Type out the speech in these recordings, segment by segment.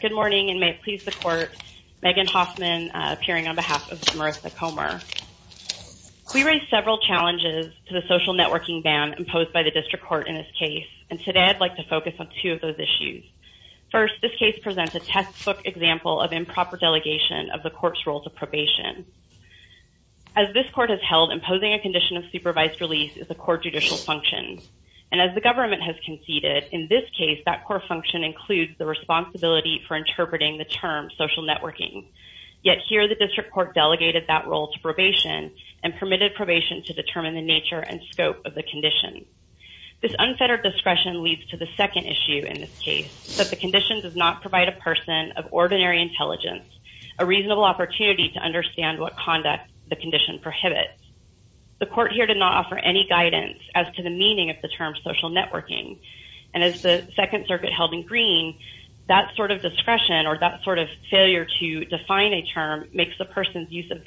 Good morning and may it please the court, Megan Hoffman, appearing on behalf of Marysa Comer. We raise several challenges to the social networking ban imposed by the District Court in this case and today I'd like to focus on two of those issues. First, this case presents a textbook example of improper delegation of the court's role to probation. As this court has held, imposing a condition of supervised release is a court judicial function and as the government has conceded, in this case that core function includes the responsibility for interpreting the term social networking. Yet here the District Court delegated that role to probation and permitted probation to determine the nature and scope of the condition. This unfettered discretion leads to the second issue in this case, that the condition does not provide a person of ordinary intelligence a reasonable opportunity to understand what conduct the condition prohibits. The court here did not offer any guidance as to the meaning of the term social networking and as the Second Circuit held in green, that sort of discretion or that sort of failure to define a term makes the person's use of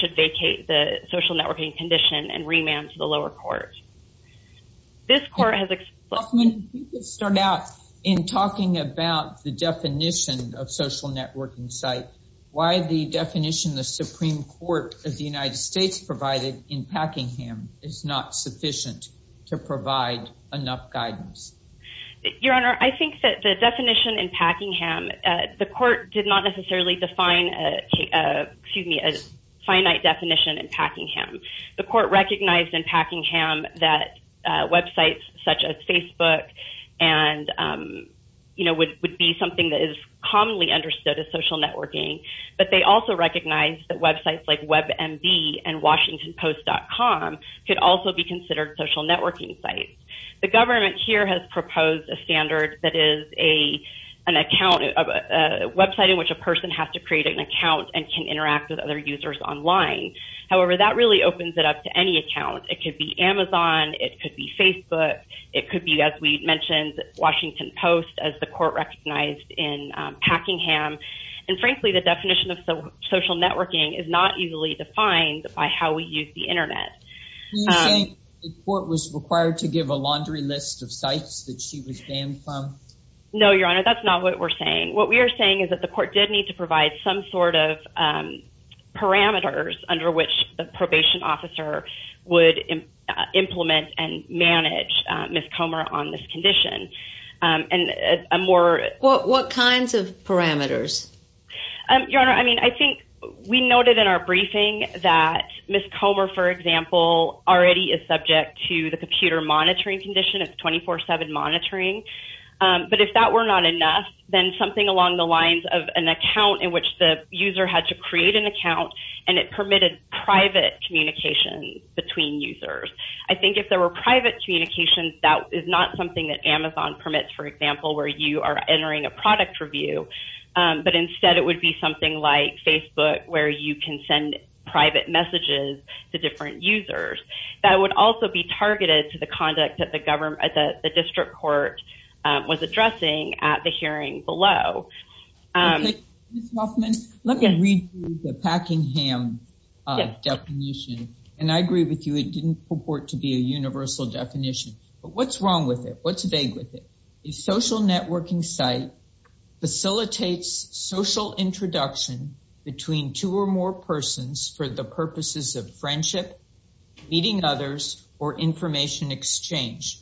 should vacate the social networking condition and remand to the lower court. This court has... You could start out in talking about the definition of social networking site. Why the definition the Supreme Court of the United States provided in Packingham is not sufficient to provide enough guidance? Your Honor, I think that the definition in Packingham, the court did not necessarily define a, excuse me, a finite definition in Packingham. The court recognized in Packingham that websites such as Facebook and, you know, would be something that is commonly understood as social networking, but they also recognized that websites like WebMD and WashingtonPost.com could also be considered social networking sites. The government here has proposed a an account of a website in which a person has to create an account and can interact with other users online. However, that really opens it up to any account. It could be Amazon. It could be Facebook. It could be, as we mentioned, WashingtonPost, as the court recognized in Packingham. And frankly, the definition of social networking is not easily defined by how we use the Internet. Were you saying the court was required to give a laundry list of sites that she was banned from? No, Your Honor, that's not what we're saying. What we are saying is that the court did need to provide some sort of parameters under which the probation officer would implement and manage Ms. Comer on this condition. And a more... What kinds of parameters? Your Honor, I mean, I think we noted in our briefing that Ms. Comer, for example, already is subject to the computer monitoring condition. It's 24-7 monitoring. But if that were not enough, then something along the lines of an account in which the user had to create an account and it permitted private communication between users. I think if there were private communication, that is not something that Amazon permits, for example, where you are entering a product review. But instead, it would be something like Facebook, where you can send private messages to different users. That would also be targeted to the conduct that the district court was addressing at the hearing below. Ms. Hoffman, let me read you the Packingham definition. And I agree with you, it didn't purport to be a universal definition. But what's wrong with it? What's vague with it? A social networking site facilitates social introduction between two or more persons for the purposes of friendship, meeting others, or information exchange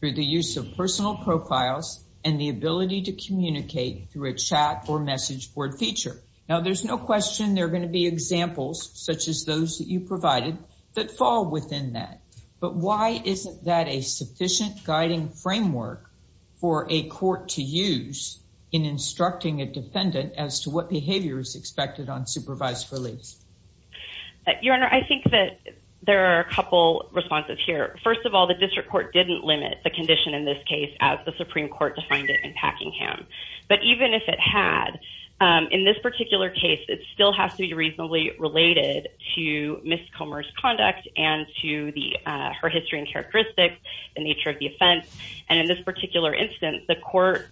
through the use of personal profiles and the ability to communicate through a chat or message board feature. Now, there's no question there are going to be examples such as those that you provided that fall within that. But why isn't that a sufficient guiding framework for a court to use in instructing a defendant as to what behavior is expected on supervised release? Your Honor, I think that there are a couple responses here. First of all, the district court didn't limit the condition in this case as the Supreme Court defined it in Packingham. But even if it had, in this particular case, it still has to be reasonably related to miscommerce conduct and to her history and characteristics, the nature of the offense. And in this particular instance, the court,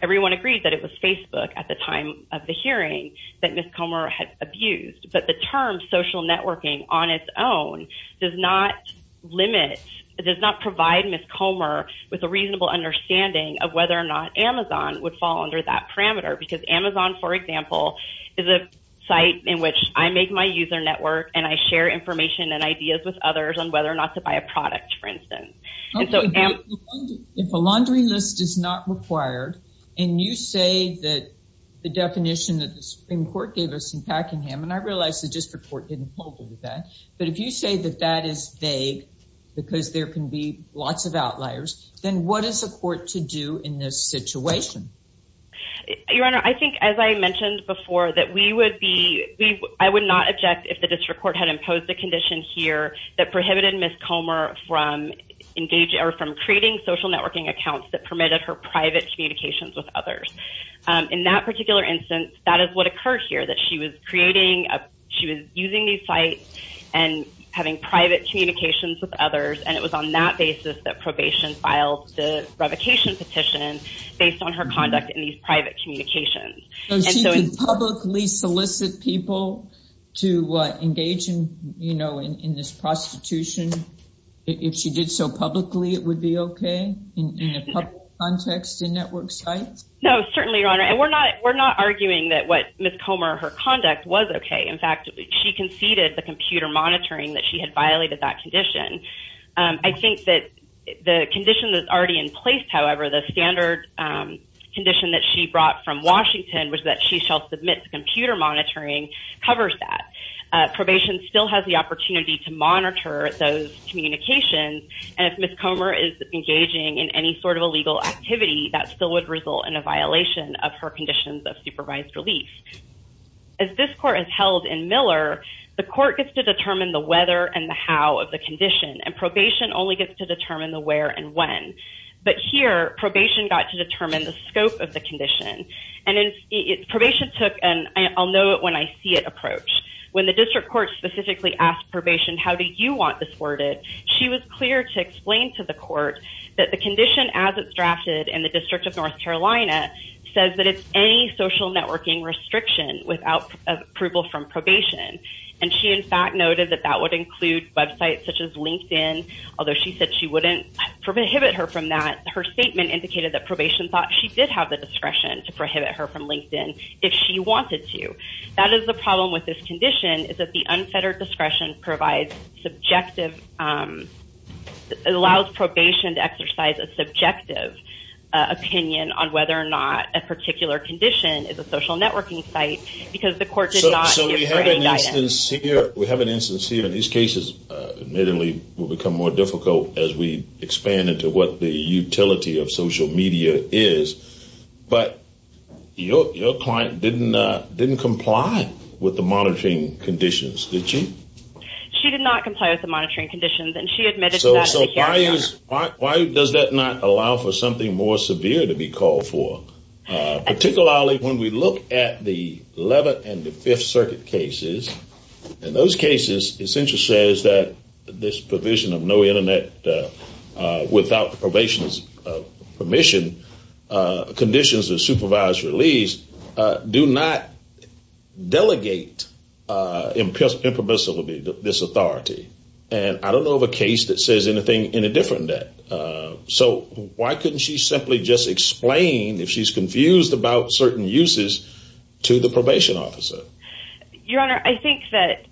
everyone agreed that it was Facebook at the time of the hearing that miscommer had abused. But the term social networking on its own does not limit, does not provide miscommer with a reasonable understanding of whether or not Amazon would fall under that parameter. Because Amazon, for example, is a site in which I make my user network and I share information and ideas with others on whether or not to buy a product, for instance. If a laundry list is not required, and you say that the definition that the Supreme Court gave us in Packingham, and I realize the district court didn't hold it to that, but if you say that that is vague because there can be lots of outliers, then what is the court to do in this situation? Your Honor, I think, as I mentioned before, that we would be, I would not object if the district court had imposed a condition here that prohibited miscommer from engaging or from creating social networking accounts that permitted her private communications with others. In that particular instance, that is what occurred here, that she was creating, she was using these sites and having private communications with others. And it was on that basis that probation filed the revocation petition based on her conduct in these private communications. So she could publicly solicit people to engage in this prostitution? If she did so publicly, it would be okay in a public context in network sites? No, certainly, Your Honor. And we're not arguing that what miscommer or her conduct was okay. In fact, she conceded the computer monitoring that she had violated that condition. I think that the condition that's already in place, however, the standard condition that she brought from Washington was that she shall submit the computer monitoring covers that. Probation still has the opportunity to monitor those communications, and if miscommer is engaging in any sort of illegal activity, that still would result in a violation of her conditions of supervised relief. As this court is held in Miller, the court gets to determine the whether and the how of the condition, and probation only gets to determine the where and when. But here, probation got to determine the scope of the condition. And probation took an I'll-know-it-when-I-see-it approach. When the district court specifically asked probation, how do you want this worded, she was clear to explain to the court that the condition as it's drafted in the District of North Carolina says that it's any social networking restriction without approval from probation. And she, in fact, noted that that would include websites such as LinkedIn, although she said she wouldn't prohibit her from that. Her statement indicated that probation thought she did have the discretion to prohibit her from LinkedIn if she wanted to. That is the problem with this condition, is that the unfettered discretion provides subjective, allows probation to exercise a subjective opinion on whether or not a particular condition is a social networking site because the court did not give her any guidance. We have an instance here, and these cases admittedly will become more difficult as we expand into what the utility of social media is. But your client didn't comply with the monitoring conditions, did she? She did not comply with the monitoring conditions, and she admitted to that at the hearing. Why does that not allow for something more severe to be called for? Particularly when we look at the 11th and the 5th Circuit cases, in those cases, it essentially says that this provision of no internet without probation's permission, conditions of supervised release, do not delegate impermissibly this authority. And I don't know of a case that says anything in a different way. So why couldn't she simply just explain if she's confused about certain uses to the probation officer? Your Honor, I think that,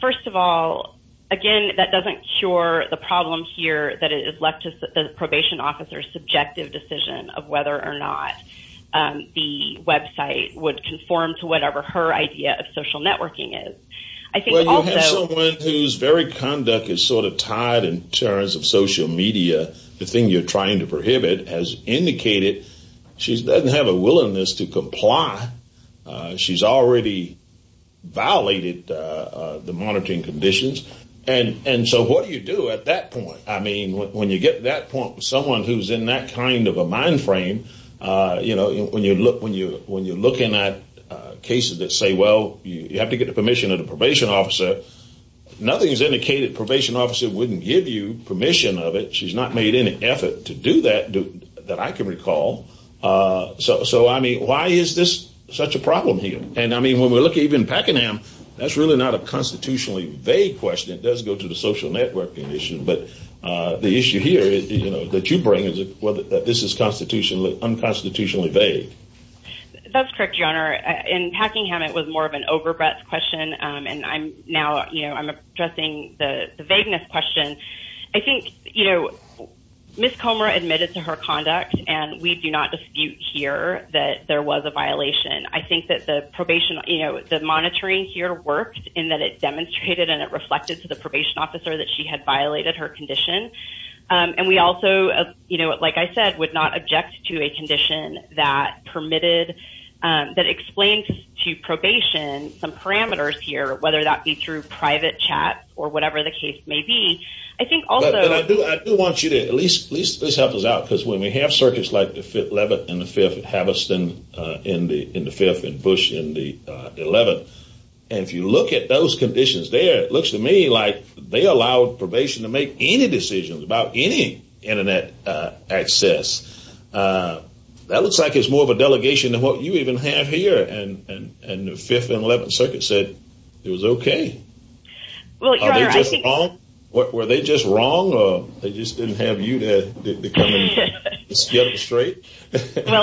first of all, again, that doesn't cure the problem here that it is a decision of whether or not the website would conform to whatever her idea of social networking is. I think also- Well, you have someone whose very conduct is sort of tied in terms of social media. The thing you're trying to prohibit has indicated she doesn't have a willingness to comply. She's already violated the monitoring conditions. And so what do you do at that point? I mean, when you get to that point with someone who's in that kind of a mind frame, you know, when you're looking at cases that say, well, you have to get the permission of the probation officer, nothing's indicated the probation officer wouldn't give you permission of it. She's not made any effort to do that, that I can recall. So, I mean, why is this such a problem here? And, I mean, when we look at even Pakenham, that's really not a constitutionally vague question. It does go to the social networking issue. But the issue here is, you know, that you bring is whether this is constitutionally, unconstitutionally vague. That's correct, Your Honor. In Pakenham, it was more of an over-breath question. And I'm now, you know, I'm addressing the vagueness question. I think, you know, Ms. Comer admitted to her conduct, and we do not dispute here that there was a violation. I think that the monitoring here worked, in that it demonstrated and it reflected to the probation officer that she had violated her condition. And we also, you know, like I said, would not object to a condition that permitted, that explained to probation some parameters here, whether that be through private chat, or whatever the case may be. I think also... But I do want you to at least help us out, because when we have circuits like Leavitt and the Fifth, and Haviston in the Fifth, and Bush in the Eleventh, and if you look at those conditions there, it looks to me like they allowed probation to make any decisions about any Internet access. That looks like it's more of a delegation than what you even have here. And the Fifth and Eleventh Circuit said it was okay. Well, Your Honor, I think... Well,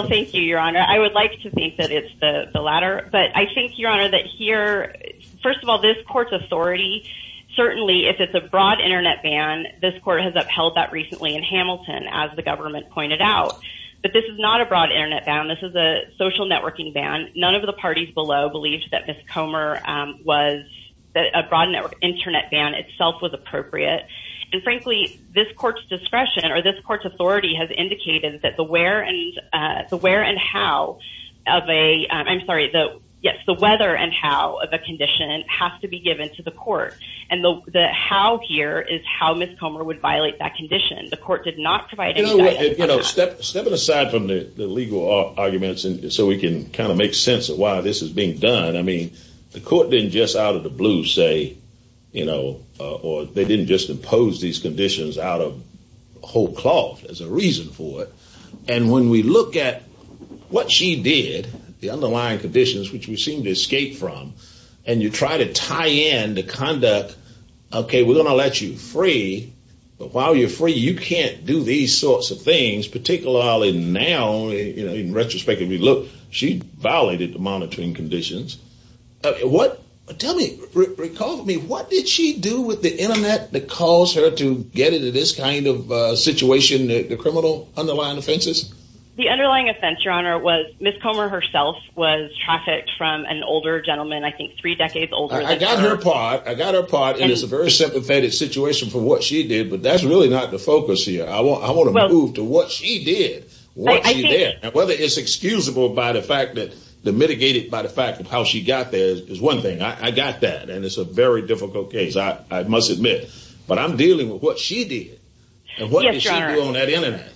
thank you, Your Honor. I would like to think that it's the latter. But I think, Your Honor, that here... First of all, this Court's authority, certainly, if it's a broad Internet ban, this Court has upheld that recently in Hamilton, as the government pointed out. But this is not a broad Internet ban. This is a social networking ban. None of the parties below believed that Ms. Comer was... that a broad Internet ban itself was appropriate. And frankly, this Court's discretion, or this Court's authority, has indicated that the where and how of a... I'm sorry, yes, the whether and how of a condition has to be given to the Court. And the how here is how Ms. Comer would violate that condition. The Court did not provide any guidance... You know what, step it aside from the legal arguments so we can kind of make sense of why this is being done. I mean, the Court didn't just out of the blue say, you know, or they didn't just impose these conditions out of whole cloth as a reason for it. And when we look at what she did, the underlying conditions, which we seem to escape from, and you try to tie in the conduct, okay, we're going to let you free, but while you're free, you can't do these sorts of things, particularly now, you know, in retrospect, if you look, she violated the monitoring conditions. What, tell me, recall to me, what did she do with the Internet that caused her to get into this kind of situation, the criminal underlying offenses? The underlying offense, Your Honor, was Ms. Comer herself was trafficked from an older gentleman, I think three decades older than her. I got her part, I got her part, and it's a very sympathetic situation for what she did, but that's really not the focus here. I want to move to what she did, what she did. Whether it's excusable by the fact that the mitigated by the fact of how she got there is one thing. I got that, and it's a very difficult case, I must admit, but I'm dealing with what she Yes, Your Honor. And what did she do on that Internet?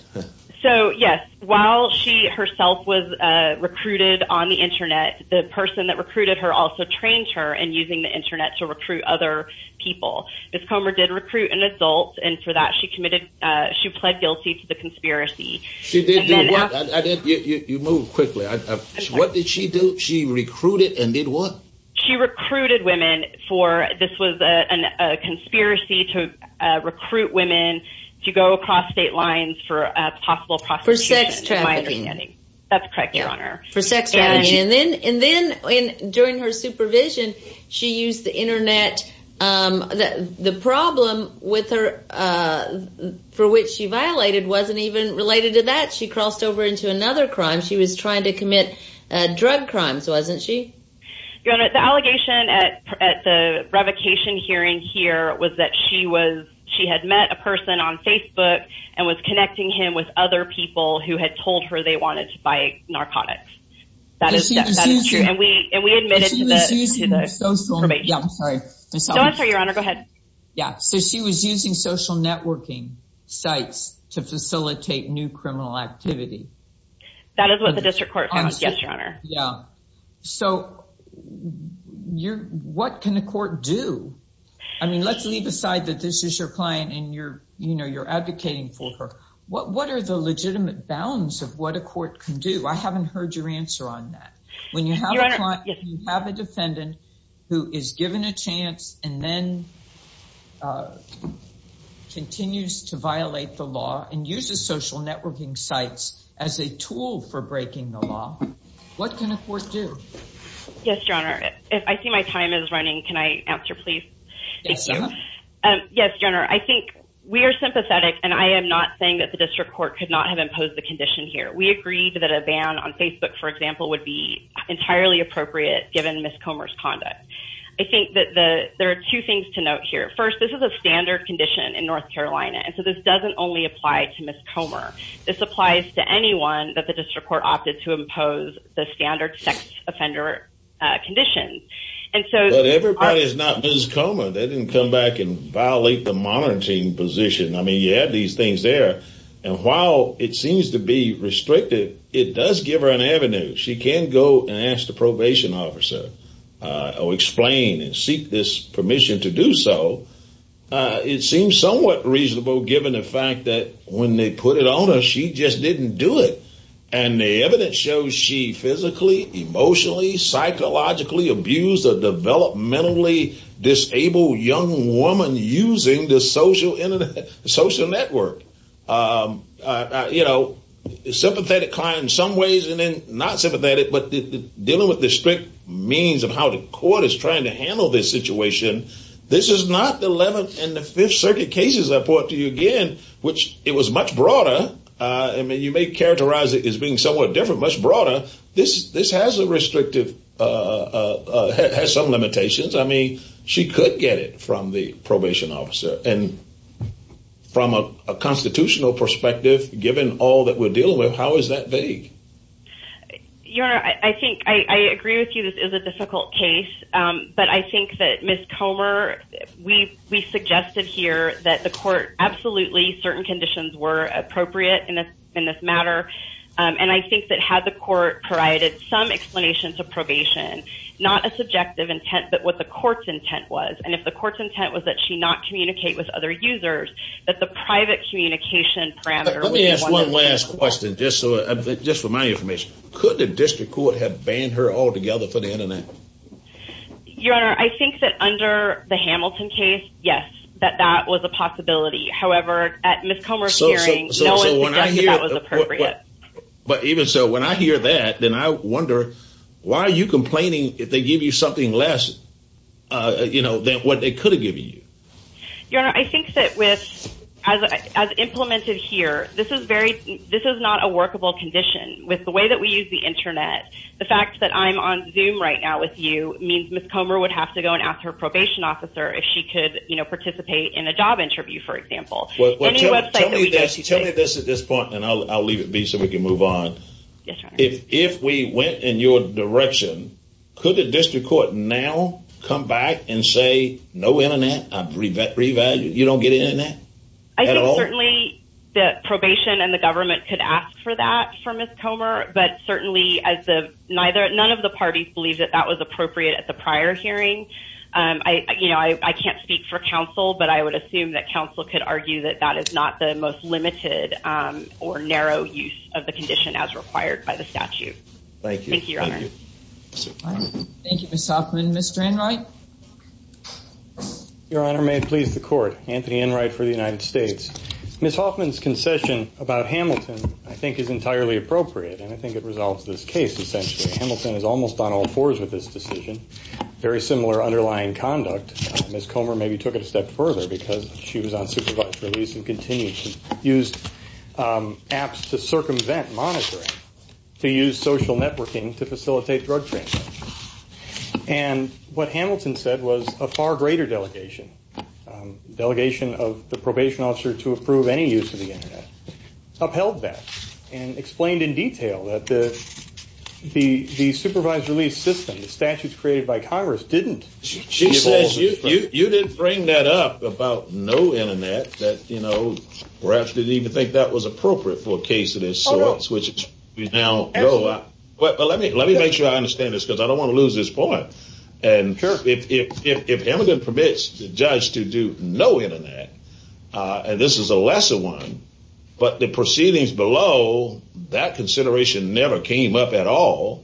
So, yes, while she herself was recruited on the Internet, the person that recruited her also trained her in using the Internet to recruit other people. Ms. Comer did recruit an adult, and for that she committed, she pled guilty to the conspiracy. She did do what? You move quickly. What did she do? She recruited and did what? She recruited women for, this was a conspiracy to recruit women to go across state lines for a possible prosecution, to my understanding. For sex trafficking. That's correct, Your Honor. For sex trafficking. And then, during her supervision, she used the Internet. The problem with her, for which she violated, wasn't even related to that. She crossed over into another crime. She was trying to commit drug crimes, wasn't she? Your Honor, the allegation at the revocation hearing here was that she was, she had met a person on Facebook and was connecting him with other people who had told her they wanted to buy narcotics. That is, that is true, and we, and we admitted to the, to the probation. I'm sorry. Don't answer, Your Honor. Go ahead. Yeah, so she was using social networking sites to facilitate new criminal activity. That is what the district court found, yes, Your Honor. Yeah. So, you're, what can the court do? I mean, let's leave aside that this is your client and you're, you know, you're advocating for her. What, what are the legitimate bounds of what a court can do? I haven't heard your answer on that. Your Honor. If you have a defendant who is given a chance and then continues to violate the law and uses social networking sites as a tool for breaking the law, what can a court do? Yes, Your Honor. I see my time is running. Can I answer, please? Yes, Your Honor. Yes, Your Honor. I think we are sympathetic and I am not saying that the district court could not have imposed the condition here. We agreed that a ban on Facebook, for example, would be entirely appropriate given Ms. Comer's conduct. I think that the, there are two things to note here. First, this is a standard condition in North Carolina, and so this doesn't only apply to Ms. Comer. This applies to anyone that the district court opted to impose the standard sex offender condition. And so... But everybody is not Ms. Comer. They didn't come back and violate the monitoring position. I mean, you have these things there. And while it seems to be restricted, it does give her an avenue. She can go and ask the probation officer or explain and seek this permission to do so. It seems somewhat reasonable given the fact that when they put it on her, she just didn't do it. And the evidence shows she physically, emotionally, psychologically abused a developmentally disabled young woman using the social network. You know, sympathetic client in some ways and then not sympathetic, but dealing with the strict means of how the court is trying to handle this situation. This is not the 11th and the Fifth Circuit cases I brought to you again, which it was much broader. I mean, you may characterize it as being somewhat different, much broader. This has a restrictive, has some limitations. I mean, she could get it from the probation officer and from a constitutional perspective, given all that we're dealing with, how is that vague? Your Honor, I think I agree with you. This is a difficult case. But I think that Ms. Comer, we suggested here that the court absolutely certain conditions were appropriate in this matter. And I think that had the court provided some explanation to probation, not a subjective intent, but what the court's intent was. And if the court's intent was that she not communicate with other users, that the private communication parameter... Let me ask one last question, just for my information. Could the district court have banned her altogether for the internet? Your Honor, I think that under the Hamilton case, yes, that that was a possibility. However, at Ms. Comer's hearing, no one suggested that was appropriate. But even so, when I hear that, then I wonder, why are you complaining if they give you something less, you know, than what they could have given you? Your Honor, I think that with, as implemented here, this is very, this is not a workable condition. With the way that we use the internet, the fact that I'm on Zoom right now with you means Ms. Comer would have to go and ask her probation officer if she could, you know, participate in a job interview, for example. Tell me this at this point, and I'll leave it be so we can move on. Yes, Your Honor. If we went in your direction, could the district court now come back and say, no internet, I've revalued, you don't get internet? I think certainly the probation and the government could ask for that for Ms. Comer, but certainly as the, neither, none of the parties believe that that was appropriate at the prior hearing. I, you know, I can't speak for counsel, but I would assume that counsel could argue that that is not the most limited or narrow use of the condition as required by the statute. Thank you. Thank you, Your Honor. Thank you, Ms. Hoffman. Mr. Enright? Your Honor, may it please the court. Anthony Enright for the United States. Ms. Hoffman's concession about Hamilton I think is entirely appropriate, and I think it resolves this case essentially. Hamilton is almost on all fours with this decision. Very similar underlying conduct. Ms. Comer maybe took it a step further because she was on supervised release and continued to use apps to circumvent monitoring, to use social networking to facilitate drug trafficking. And what Hamilton said was a far greater delegation, delegation of the probation officer to approve any use of the internet, upheld that and explained in detail that the supervised release system, the statutes created by Congress, didn't give all of it. She says you didn't bring that up about no internet that, you know, perhaps didn't even think that was appropriate for a case of this sort, which we now know. But let me make sure I understand this because I don't want to lose this point. And if Hamilton permits the judge to do no internet, and this is a lesser one, but the proceedings below, that consideration never came up at all,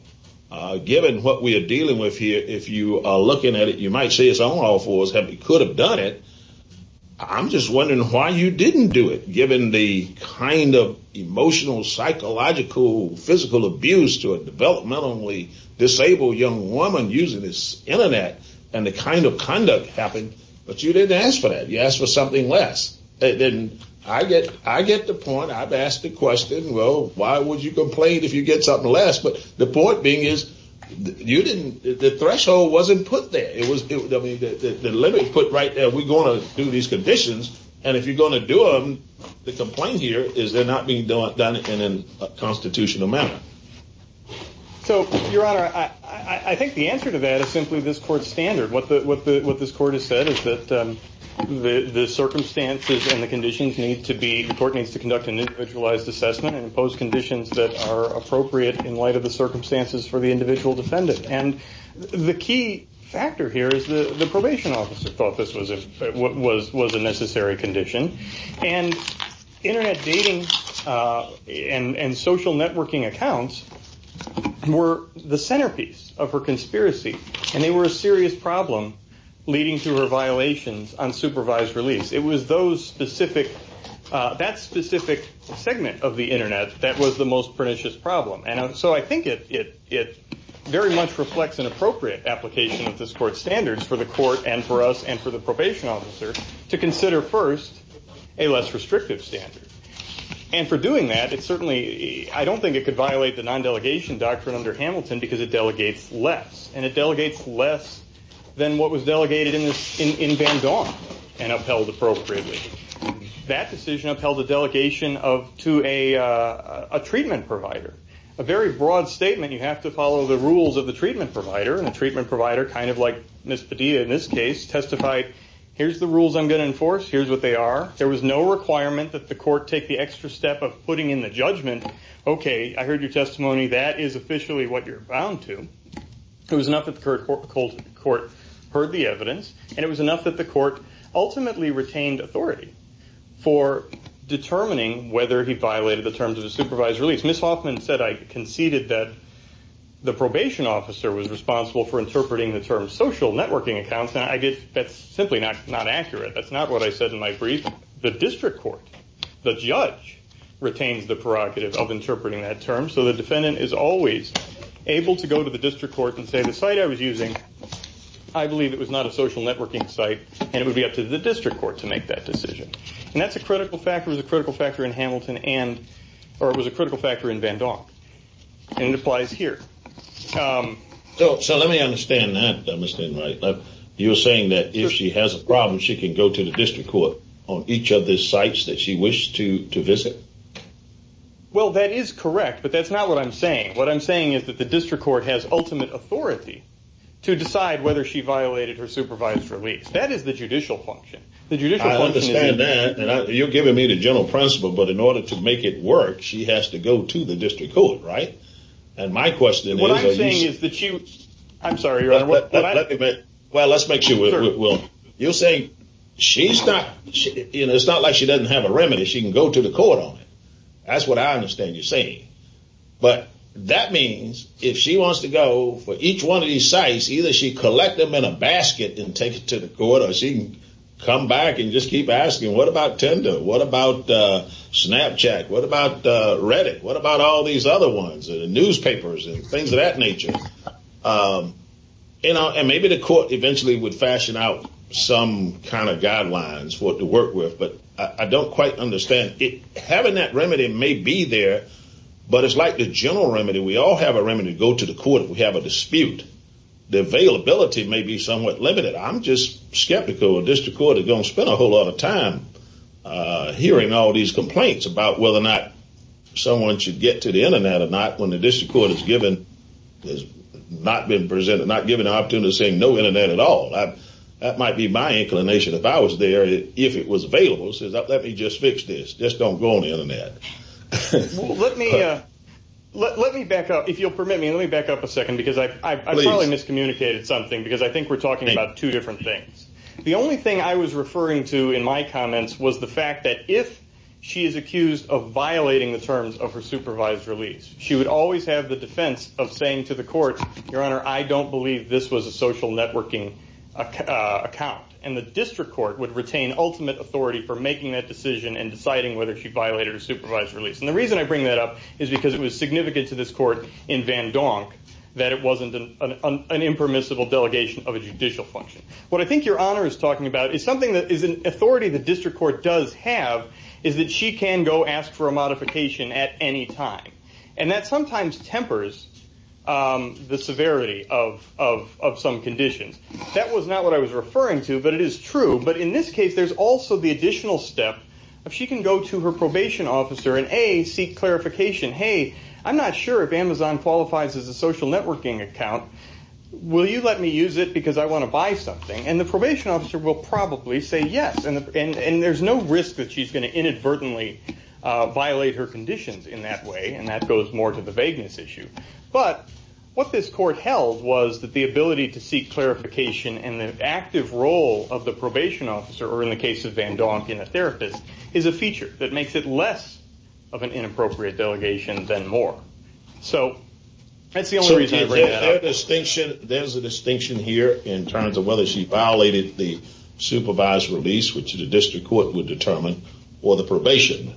given what we are dealing with here. If you are looking at it, you might say it's on all fours. He could have done it. I'm just wondering why you didn't do it, given the kind of emotional, psychological, physical abuse to a developmentally disabled young woman using this internet and the kind of conduct happened. But you didn't ask for that. You asked for something less. And I get the point. I've asked the question, well, why would you complain if you get something less? But the point being is you didn't, the threshold wasn't put there. It was, I mean, the limit put right there, we're going to do these conditions, and if you're going to do them, the complaint here is they're not being done in a constitutional manner. So, Your Honor, I think the answer to that is simply this court's standard. What this court has said is that the circumstances and the conditions need to be, the court needs to conduct an individualized assessment and impose conditions that are appropriate in light of the circumstances for the individual defendant. And the key factor here is the probation officer thought this was a necessary condition. And internet dating and social networking accounts were the centerpiece of her conspiracy. And they were a serious problem leading to her violations on supervised release. It was those specific, that specific segment of the internet that was the most pernicious problem. And so I think it very much reflects an appropriate application of this court's standards for the court and for us and for the probation officer to consider first a less restrictive standard. And for doing that, it certainly, I don't think it could violate the non-delegation doctrine under Hamilton because it delegates less. And it delegates less than what was delegated in Van Gogh and upheld appropriately. That decision upheld the delegation of, to a treatment provider. A very broad statement, you have to follow the rules of the treatment provider. And the treatment provider, kind of like Ms. Padilla in this case, testified, here's the rules I'm going to enforce, here's what they are. There was no requirement that the court take the extra step of putting in the judgment, okay, I heard your testimony, that is officially what you're bound to. It was enough that the court heard the evidence. And it was enough that the court ultimately retained authority for determining whether he violated the terms of the supervised release. Ms. Hoffman said, I conceded that the probation officer was responsible for interpreting the term social networking accounts. Now, that's simply not accurate. That's not what I said in my brief. The district court, the judge, retains the prerogative of interpreting that term. So the defendant is always able to go to the district court and say, the site I was using, I believe it was not a social networking site, and it would be up to the district court to make that decision. And that's a critical factor, it was a critical factor in Hamilton and, or it was a critical factor in Van Donk. And it applies here. So let me understand that, Mr. Wright. You're saying that if she has a problem, she can go to the district court on each of the sites that she wished to visit? Well, that is correct, but that's not what I'm saying. What I'm saying is that the district court has ultimate authority to decide whether she violated her supervised release. That is the judicial function. I understand that, and you're giving me the general principle, but in order to make it work, she has to go to the district court, right? And my question is, what I'm saying is that she, I'm sorry, Your Honor. Well, let's make sure, well, you're saying she's not, it's not like she doesn't have a remedy, she can go to the court on it. That's what I understand you're saying. But that means if she wants to go for each one of these sites, either she collect them in a basket and take it to the court, or she can come back and just keep asking, what about Tinder? What about Snapchat? What about Reddit? What about all these other ones, the newspapers and things of that nature? And maybe the court eventually would fashion out some kind of guidelines for it to work with. But I don't quite understand. Having that remedy may be there, but it's like the general remedy. We all have a remedy to go to the court if we have a dispute. The availability may be somewhat limited. I'm just skeptical a district court is going to spend a whole lot of time hearing all these complaints about whether or not someone should get to the Internet or not when the district court has given, has not been presented, not given an opportunity to say no Internet at all. That might be my inclination. If I was there, if it was available, let me just fix this. Just don't go on the Internet. Let me back up. If you'll permit me, let me back up a second. Please. I probably miscommunicated something because I think we're talking about two different things. The only thing I was referring to in my comments was the fact that if she is accused of violating the terms of her supervised release, she would always have the defense of saying to the court, Your Honor, I don't believe this was a social networking account. The district court would retain ultimate authority for making that decision and deciding whether she violated her supervised release. The reason I bring that up is because it was significant to this court in Van Donk that it wasn't an impermissible delegation of a judicial function. What I think Your Honor is talking about is an authority the district court does have is that she can go ask for a modification at any time. That sometimes tempers the severity of some conditions. That was not what I was referring to, but it is true. In this case, there's also the additional step of she can go to her probation officer and A, seek clarification. Hey, I'm not sure if Amazon qualifies as a social networking account. Will you let me use it because I want to buy something? The probation officer will probably say yes. There's no risk that she's going to inadvertently violate her conditions in that way. That goes more to the vagueness issue. What this court held was that the ability to seek clarification and the active role of the probation officer or in the case of Van Donk in a therapist is a feature that makes it less of an inappropriate delegation than more. That's the only reason I bring that up. There's a distinction here in terms of whether she violated the supervised release which the district court would determine or the probation.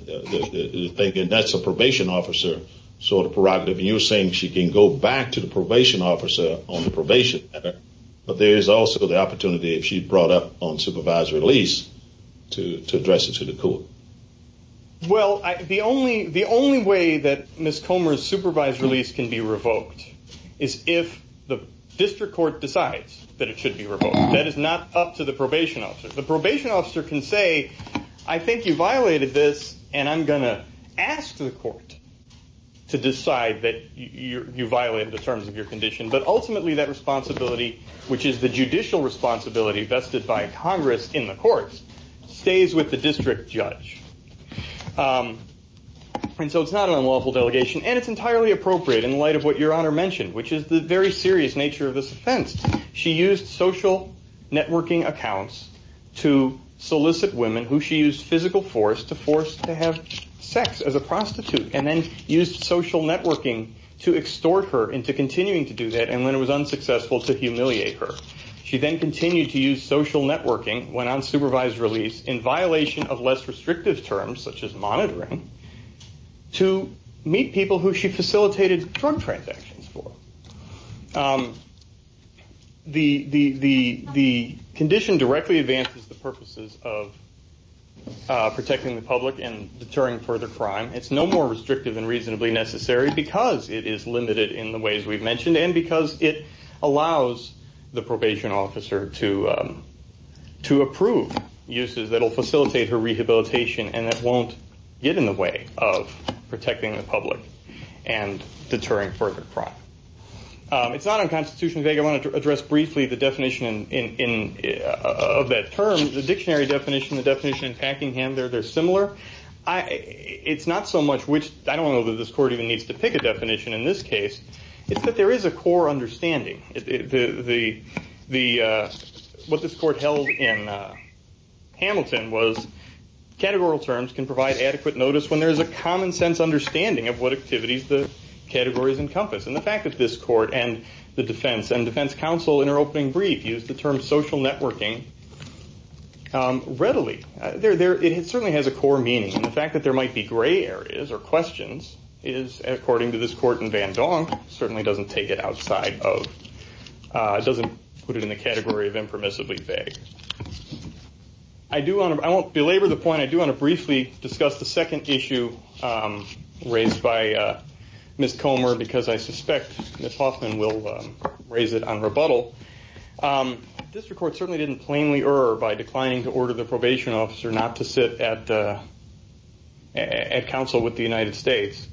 That's a probation officer sort of prerogative. You're saying she can go back to the probation officer on the probation matter, but there is also the opportunity if she's brought up on supervised release to address it to the court. The only way that Ms. Comer's supervised release can be revoked is if the district court decides that it should be revoked. That is not up to the probation officer. The probation officer can say, I think you violated this and I'm going to ask the court to decide that you violated the terms of your condition. Ultimately, that responsibility, which is the judicial responsibility vested by Congress in the courts, stays with the district judge. It's not an unlawful delegation and it's entirely appropriate in light of what Your Honor mentioned, which is the very serious nature of this offense. She used social networking accounts to solicit women who she used physical force to have sex as a prostitute and then used social networking to extort her into continuing to do that and when it was unsuccessful to humiliate her. She then continued to use social networking when on supervised release in violation of less restrictive terms, such as monitoring, to meet people who she facilitated drug transactions for. The condition directly advances the purposes of protecting the public and deterring further crime. It's no more restrictive than reasonably necessary because it is limited in the ways we've mentioned and because it allows the probation officer to approve uses that will facilitate her rehabilitation and that won't get in the way of protecting the public and deterring further crime. It's not unconstitutionally vague. I want to address briefly the definition of that term, the dictionary definition, the definition in Packingham. They're similar. It's not so much which, I don't know that this court even needs to pick a definition in this case, it's that there is a core understanding. What this court held in Hamilton was categorical terms can provide adequate notice when there is a common sense understanding of what activities the categories encompass. The fact that this court and the defense and defense counsel in their opening brief used the term social networking readily. It certainly has a core meaning. The fact that there might be gray areas or questions is, according to this court in Van Dong, certainly doesn't take it outside of, doesn't put it in the category of impermissibly vague. I won't belabor the point, I do want to briefly discuss the second issue raised by Ms. Comer because I suspect Ms. Hoffman will raise it on rebuttal. District Court certainly didn't plainly err by declining to order the probation officer not to sit at counsel with the United States.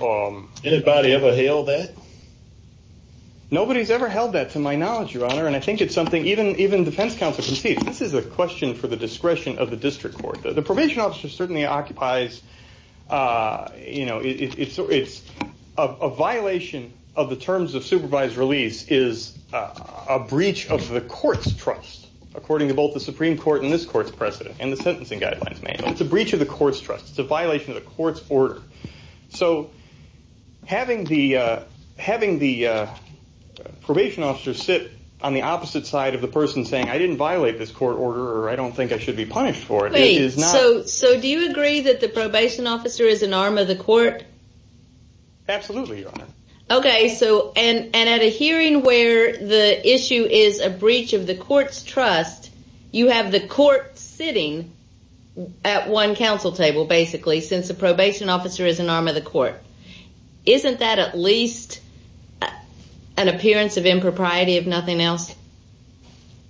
Anybody ever held that? Nobody's ever held that to my knowledge, Your Honor, and I think it's something even defense counsel concedes. This is a question for the discretion of the district court. The probation officer certainly occupies, a violation of the terms of supervised release is a breach of the court's trust, according to both the Supreme Court and this court's precedent, and the sentencing guidelines manual. It's a breach of the court's trust. It's a violation of the court's order. Having the probation officer sit on the opposite side of the person saying, I didn't violate this court order or I don't think I should be punished for it, Wait, so do you agree that the probation officer is an arm of the court? Absolutely, Your Honor. Okay, so and at a hearing where the issue is a breach of the court's trust, you have the court sitting at one counsel table, basically, since the probation officer is an arm of the court. Isn't that at least an appearance of impropriety, if nothing else?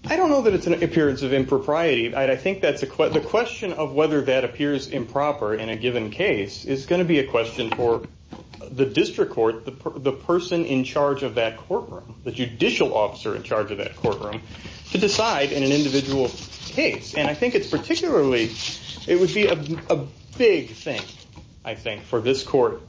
I don't know that it's an appearance of impropriety. The question of whether that appears improper in a given case, is going to be a question for the district court, the person in charge of that courtroom, the judicial officer in charge of that courtroom, to decide in an individual case. And I think it's particularly, it would be a big thing, I think, for this court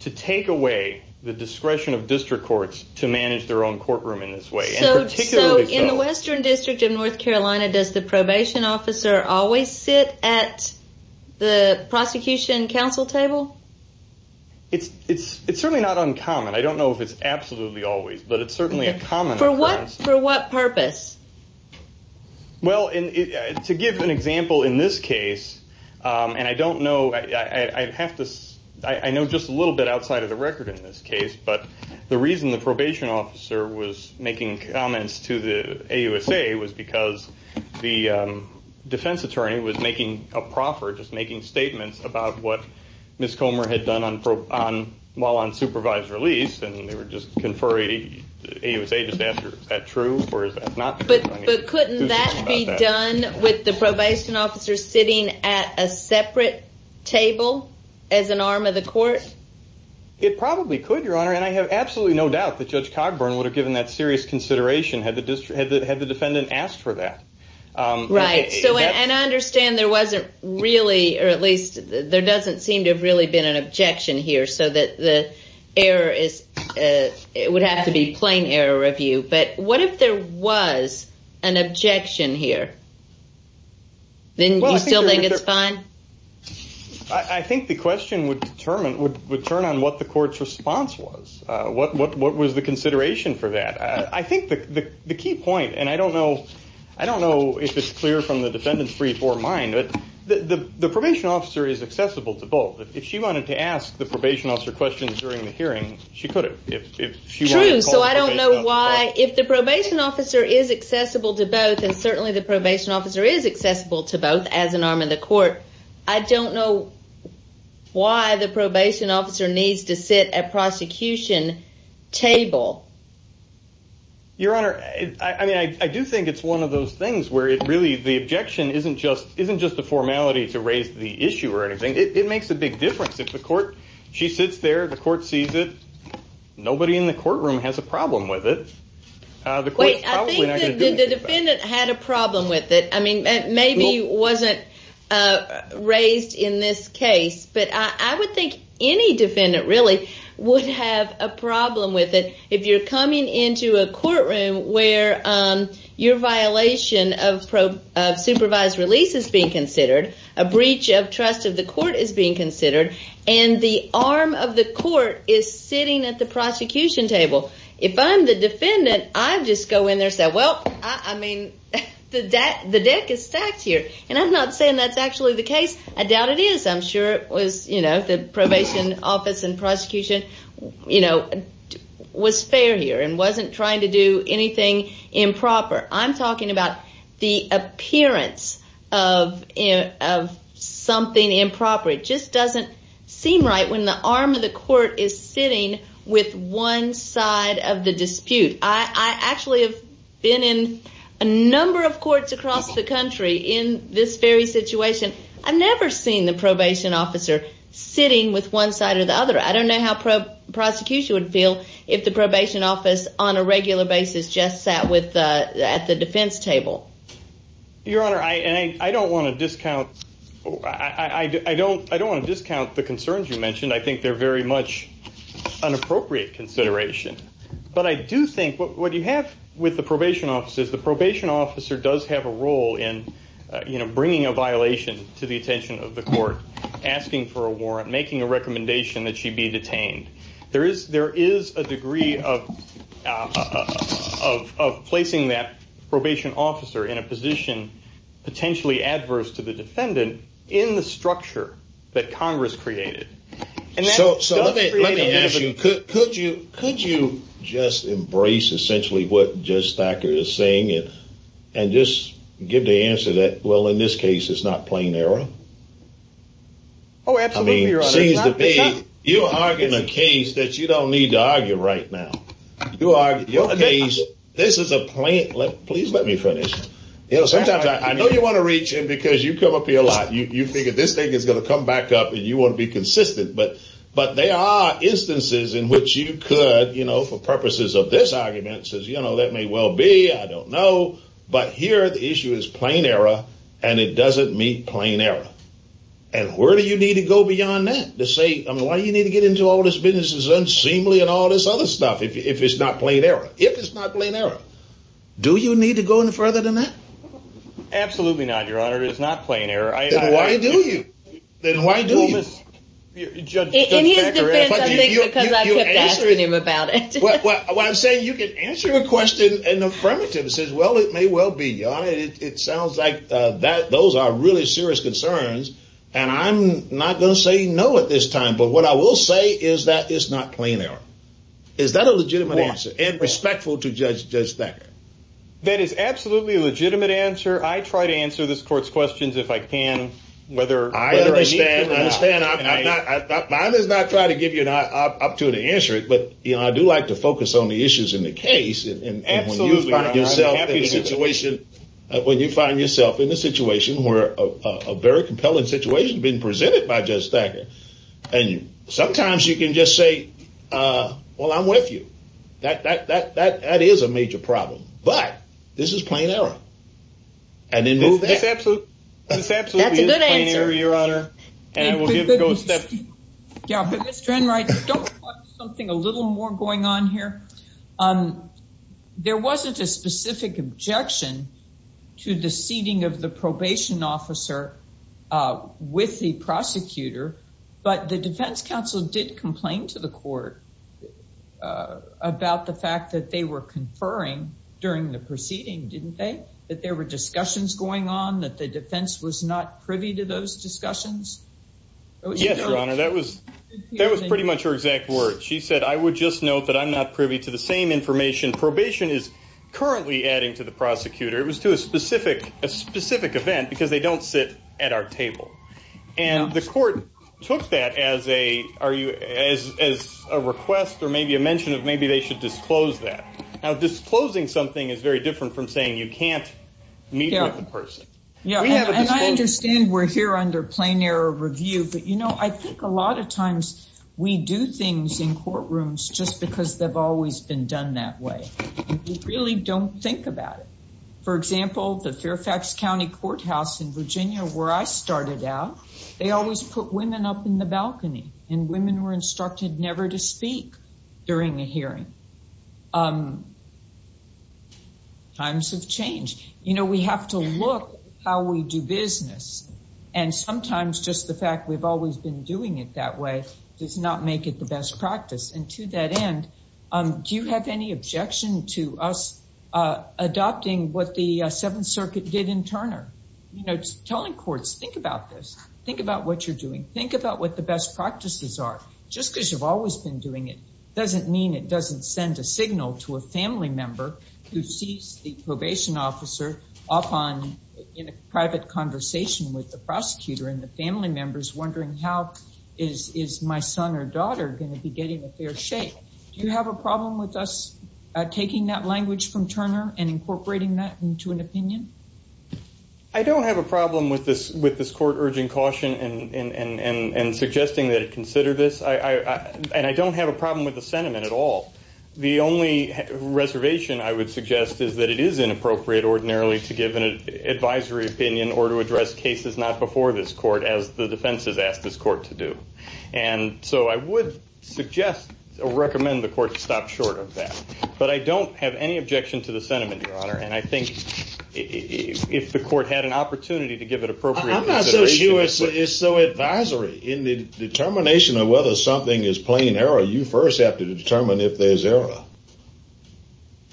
to take away the discretion of district courts to manage their own courtroom in this way. So in the Western District of North Carolina, does the probation officer always sit at the prosecution counsel table? It's certainly not uncommon. I don't know if it's absolutely always, but it's certainly a common occurrence. For what purpose? Well, to give an example, in this case, and I don't know, I know just a little bit outside of the record in this case, but the reason the probation officer was making comments to the AUSA was because the defense attorney was making a proffer, just making statements about what Ms. Comer had done while on supervised release, and they were just conferring. The AUSA just asked her, is that true or is that not true? But couldn't that be done with the probation officer sitting at a separate table as an arm of the court? It probably could, Your Honor, and I have absolutely no doubt that Judge Cogburn would have given that serious consideration had the defendant asked for that. Right, and I understand there wasn't really, or at least there doesn't seem to have really been an objection here, so that the error is, it would have to be plain error of you, but what if there was an objection here? Then do you still think it's fine? I think the question would turn on what the court's response was. What was the consideration for that? I think the key point, and I don't know if it's clear from the defendant's brief or mine, but the probation officer is accessible to both. If she wanted to ask the probation officer questions during the hearing, she could have. True, so I don't know why, if the probation officer is accessible to both, and certainly the probation officer is accessible to both as an arm of the court, I don't know why the probation officer needs to sit at a prosecution table. Your Honor, I do think it's one of those things where really the objection isn't just a formality to raise the issue or anything, it makes a big difference. If the court, she sits there, the court sees it, nobody in the courtroom has a problem with it. Wait, I think the defendant had a problem with it. I mean, maybe wasn't raised in this case, but I would think any defendant really would have a problem with it if you're coming into a courtroom where your violation of supervised release is being considered, a breach of trust of the court is being considered, and the arm of the court is sitting at the prosecution table. If I'm the defendant, I just go in there and say, well, I mean, the deck is stacked here. And I'm not saying that's actually the case. I doubt it is. I'm sure it was, you know, the probation office and prosecution, you know, was fair here and wasn't trying to do anything improper. I'm talking about the appearance of something improper. It just doesn't seem right when the arm of the court is sitting with one side of the dispute. I actually have been in a number of courts across the country in this very situation. I've never seen the probation officer sitting with one side or the other. I don't know how prosecution would feel if the probation office on a regular basis just sat at the defense table. Your Honor, I don't want to discount the concerns you mentioned. I think they're very much an appropriate consideration. But I do think what you have with the probation officers, the probation officer does have a role in, you know, making a violation to the attention of the court, asking for a warrant, making a recommendation that she be detained. There is a degree of placing that probation officer in a position potentially adverse to the defendant in the structure that Congress created. So let me ask you, could you just embrace essentially what Judge Thacker is saying and just give the answer that, well, in this case, it's not plain error? Oh, absolutely, Your Honor. You're arguing a case that you don't need to argue right now. This is a plain... Please let me finish. You know, sometimes I know you want to reach in because you come up here a lot. You figure this thing is going to come back up and you want to be consistent. But there are instances in which you could, you know, for purposes of this argument, says, you know, that may well be. I don't know. But here, the issue is plain error and it doesn't meet plain error. And where do you need to go beyond that to say, I mean, why do you need to get into all this business as unseemly and all this other stuff if it's not plain error? If it's not plain error, do you need to go any further than that? Absolutely not, Your Honor. It's not plain error. Then why do you? In his defense, I think, because I kept asking him about it. What I'm saying, you could answer a question and the affirmative says, well, it may well be, Your Honor. It sounds like those are really serious concerns. And I'm not going to say no at this time. But what I will say is that it's not plain error. Is that a legitimate answer? And respectful to Judge Thacker. That is absolutely a legitimate answer. I try to answer this Court's questions if I can. Whether I need to or not. I understand. I'm not trying to give you an opportunity to answer it. But, you know, I do like to focus on the issues in the case. Absolutely. When you find yourself in a situation where a very compelling situation has been presented by Judge Thacker. And sometimes you can just say, well, I'm with you. That is a major problem. But this is plain error. And then move ahead. That's a good answer. That's absolutely a plain error, Your Honor. And we'll give it a go step by step. don't you want something a little more going on here? There was a question There wasn't a specific objection to the seating of the probation officer with the prosecutor. But the defense counsel did complain to the court about the fact that they were conferring during the proceeding, didn't they? That there were discussions going on. That the defense was not privy to those discussions. Yes, Your Honor. That was pretty much her exact words. She said, I would just note that I'm not privy to the same information probation is currently adding to the prosecutor. It was to a specific event because they don't sit at our table. And the court took that as a request or maybe a mention of maybe they should disclose that. Now disclosing something is very different from saying you can't meet with the person. And I understand we're here under plain error review. But I think a lot of times we do things in courtrooms just because they've always been done that way. And we really don't think about it. For example, the Fairfax County Courthouse in Virginia where I started out, they always put women up in the balcony. And women were instructed never to speak during a hearing. Times have changed. You know, we have to look how we do business. And sometimes just the fact we've always been doing it that way does not make it the best practice. And to that end, do you have any objection to us adopting what the Seventh Circuit did in Turner? Telling courts, think about this. Think about what you're doing. Think about what the best practices are. Just because you've always been doing it doesn't mean it doesn't send a signal to a family member who sees the probation officer in a private conversation with the prosecutor and the family members wondering how is my son or daughter going to be getting a fair shake? Do you have a problem with us taking that language from Turner and incorporating that into an opinion? I don't have a problem with this court urging caution and suggesting that it consider this. And I don't have a problem with the sentiment at all. The only reservation I would suggest is that it is inappropriate ordinarily to give an advisory opinion or to address cases not before this court as the defense has asked this court to do. And so I would suggest or recommend the court stop short of that. But I don't have any objection to the sentiment, Your Honor. And I think if the court had an opportunity to give it appropriate consideration... I'm not so sure it's so advisory. In the determination of whether something is plain error, you first have to determine if there's error.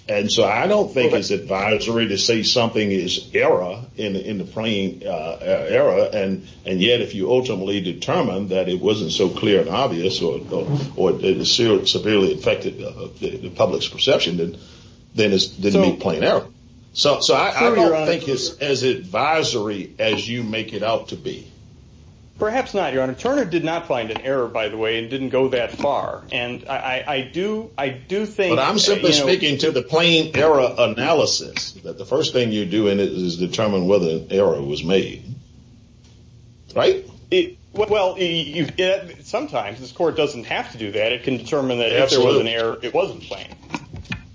And so I don't think it's advisory to say something is error in the plain error and yet if you ultimately determine that it wasn't so clear and obvious or severely affected the public's perception then it's plain error. So I don't think it's as advisory as you make it out to be. Perhaps not, Your Honor. Turner did not find an error by the way and didn't go that far. And I do think... But I'm simply speaking to the plain error analysis that the first thing you do in it is determine whether an error was made. Right? Sometimes this court doesn't have to do that. It can determine that if there was an error it wasn't plain.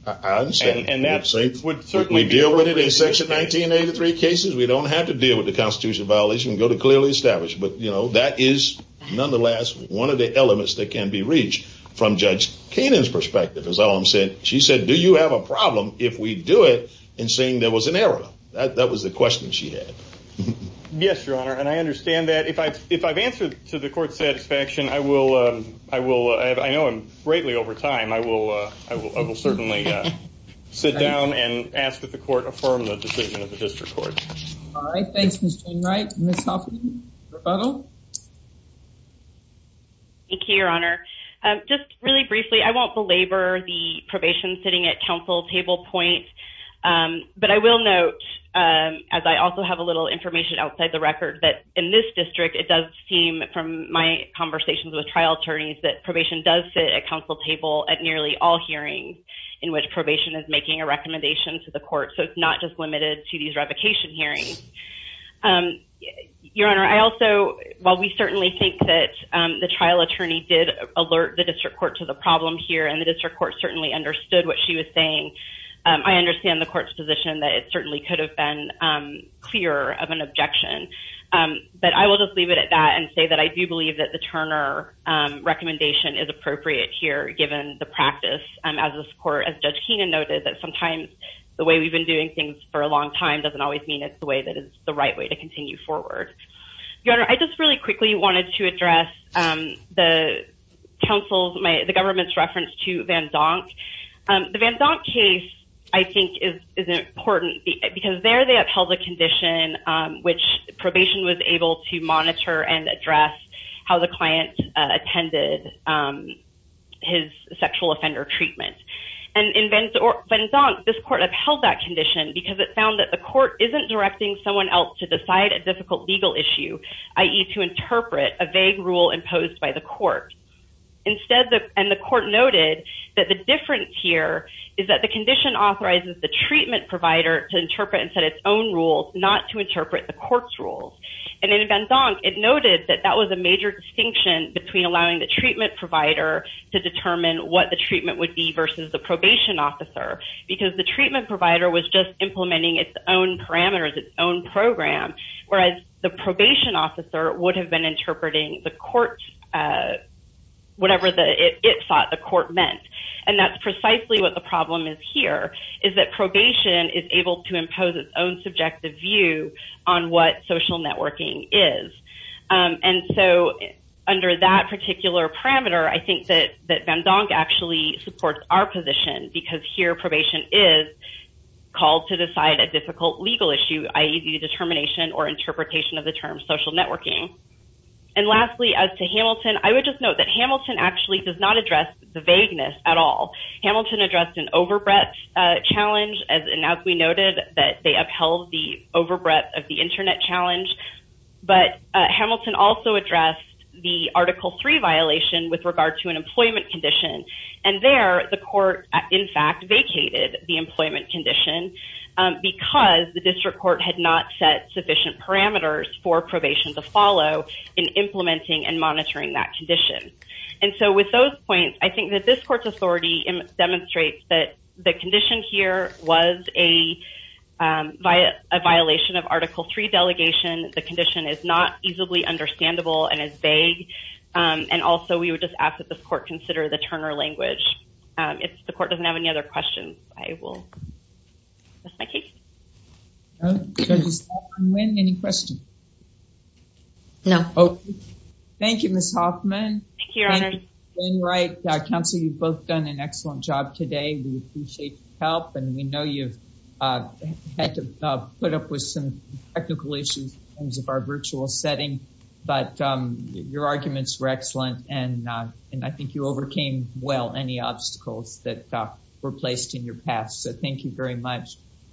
I understand. We deal with it in Section 1983 cases. We don't have to deal with the constitutional violation. We can go to clearly established. But that is nonetheless one of the elements that can be reached. From Judge Kainan's perspective, she said, do you have a problem if we do it and saying there was an error? That was the question she had. Yes, Your Honor. And I understand that. If I've answered to the court's satisfaction I will... I know I'm greatly over time. I will certainly sit down and ask that the court affirm the decision of the District Court. All right. Thanks, Mr. Stainwright. Ms. Hoffman, rebuttal? Thank you, Your Honor. Just really briefly, I won't belabor the probation sitting at counsel table point. But I will note as I also have a little information outside the record that in this district it does seem from my conversations with trial attorneys that probation does sit at counsel table at nearly all hearings in which probation is making a recommendation to the court. So it's not just limited to these revocation hearings. Your Honor, I also... While we certainly think that the trial attorney did alert the District Court to the problem here and the District Court certainly understood what she was saying I understand the court's position that it certainly could have been clearer of an objection. But I will just leave it at that and say that I do believe that the Turner recommendation is appropriate here given the practice as this court as Judge Keenan noted that sometimes the way we've been doing things for a long time doesn't always mean it's the way that is the right way to continue forward. Your Honor, I just really quickly wanted to address the counsel's... to Van Donk. The Van Donk case I think is important because there they upheld a condition which probation was able to monitor and address how the client attended his sexual offender treatment. In Van Donk, this court upheld that condition because it found that the court isn't directing someone else to decide a difficult legal issue, i.e. to interpret a vague rule imposed by the court. Instead the court noted that the difference here is that the condition authorizes the treatment provider to interpret and set its own rules, not to interpret the court's rules. In Van Donk, it noted that that was a major distinction between allowing the treatment provider to determine what the treatment would be versus the probation officer because the treatment provider was just implementing its own parameters, its own program, whereas the probation officer would have been interpreting the court's rules in a way that it thought the court meant. And that's precisely what the problem is here, is that probation is able to impose its own subjective view on what social networking is. And so under that particular parameter I think that Van Donk actually supports our position because here probation is called to decide a difficult legal issue, i.e. the determination or interpretation of the term social networking. And lastly, as to Hamilton, I would just note that Hamilton actually does not address the vagueness at all. Hamilton addressed an over breadth challenge and as we noted that they upheld the over breadth of the internet challenge, but Hamilton also addressed the Article 3 violation with regard to an employment condition. And there the court in fact vacated the employment condition because the district court had not set sufficient parameters for probation to follow in that condition. And so with those points I think that this court's authority demonstrates that the condition here was a violation of Article 3 delegation. The condition is not easily understandable and is vague and also we would just ask that the court consider the Turner language. If the court doesn't have any other questions I will dismiss my case. Judge O'Sullivan, any questions? No. Thank you, Ms. Hoffman. Thank you, Your Honor. Counsel, you've both done an excellent job today. We appreciate your help and we know you've had to put up with some technical issues in terms of our virtual setting but your arguments were excellent and I think you overcame well any obstacles that were placed in your path. So thank you very much.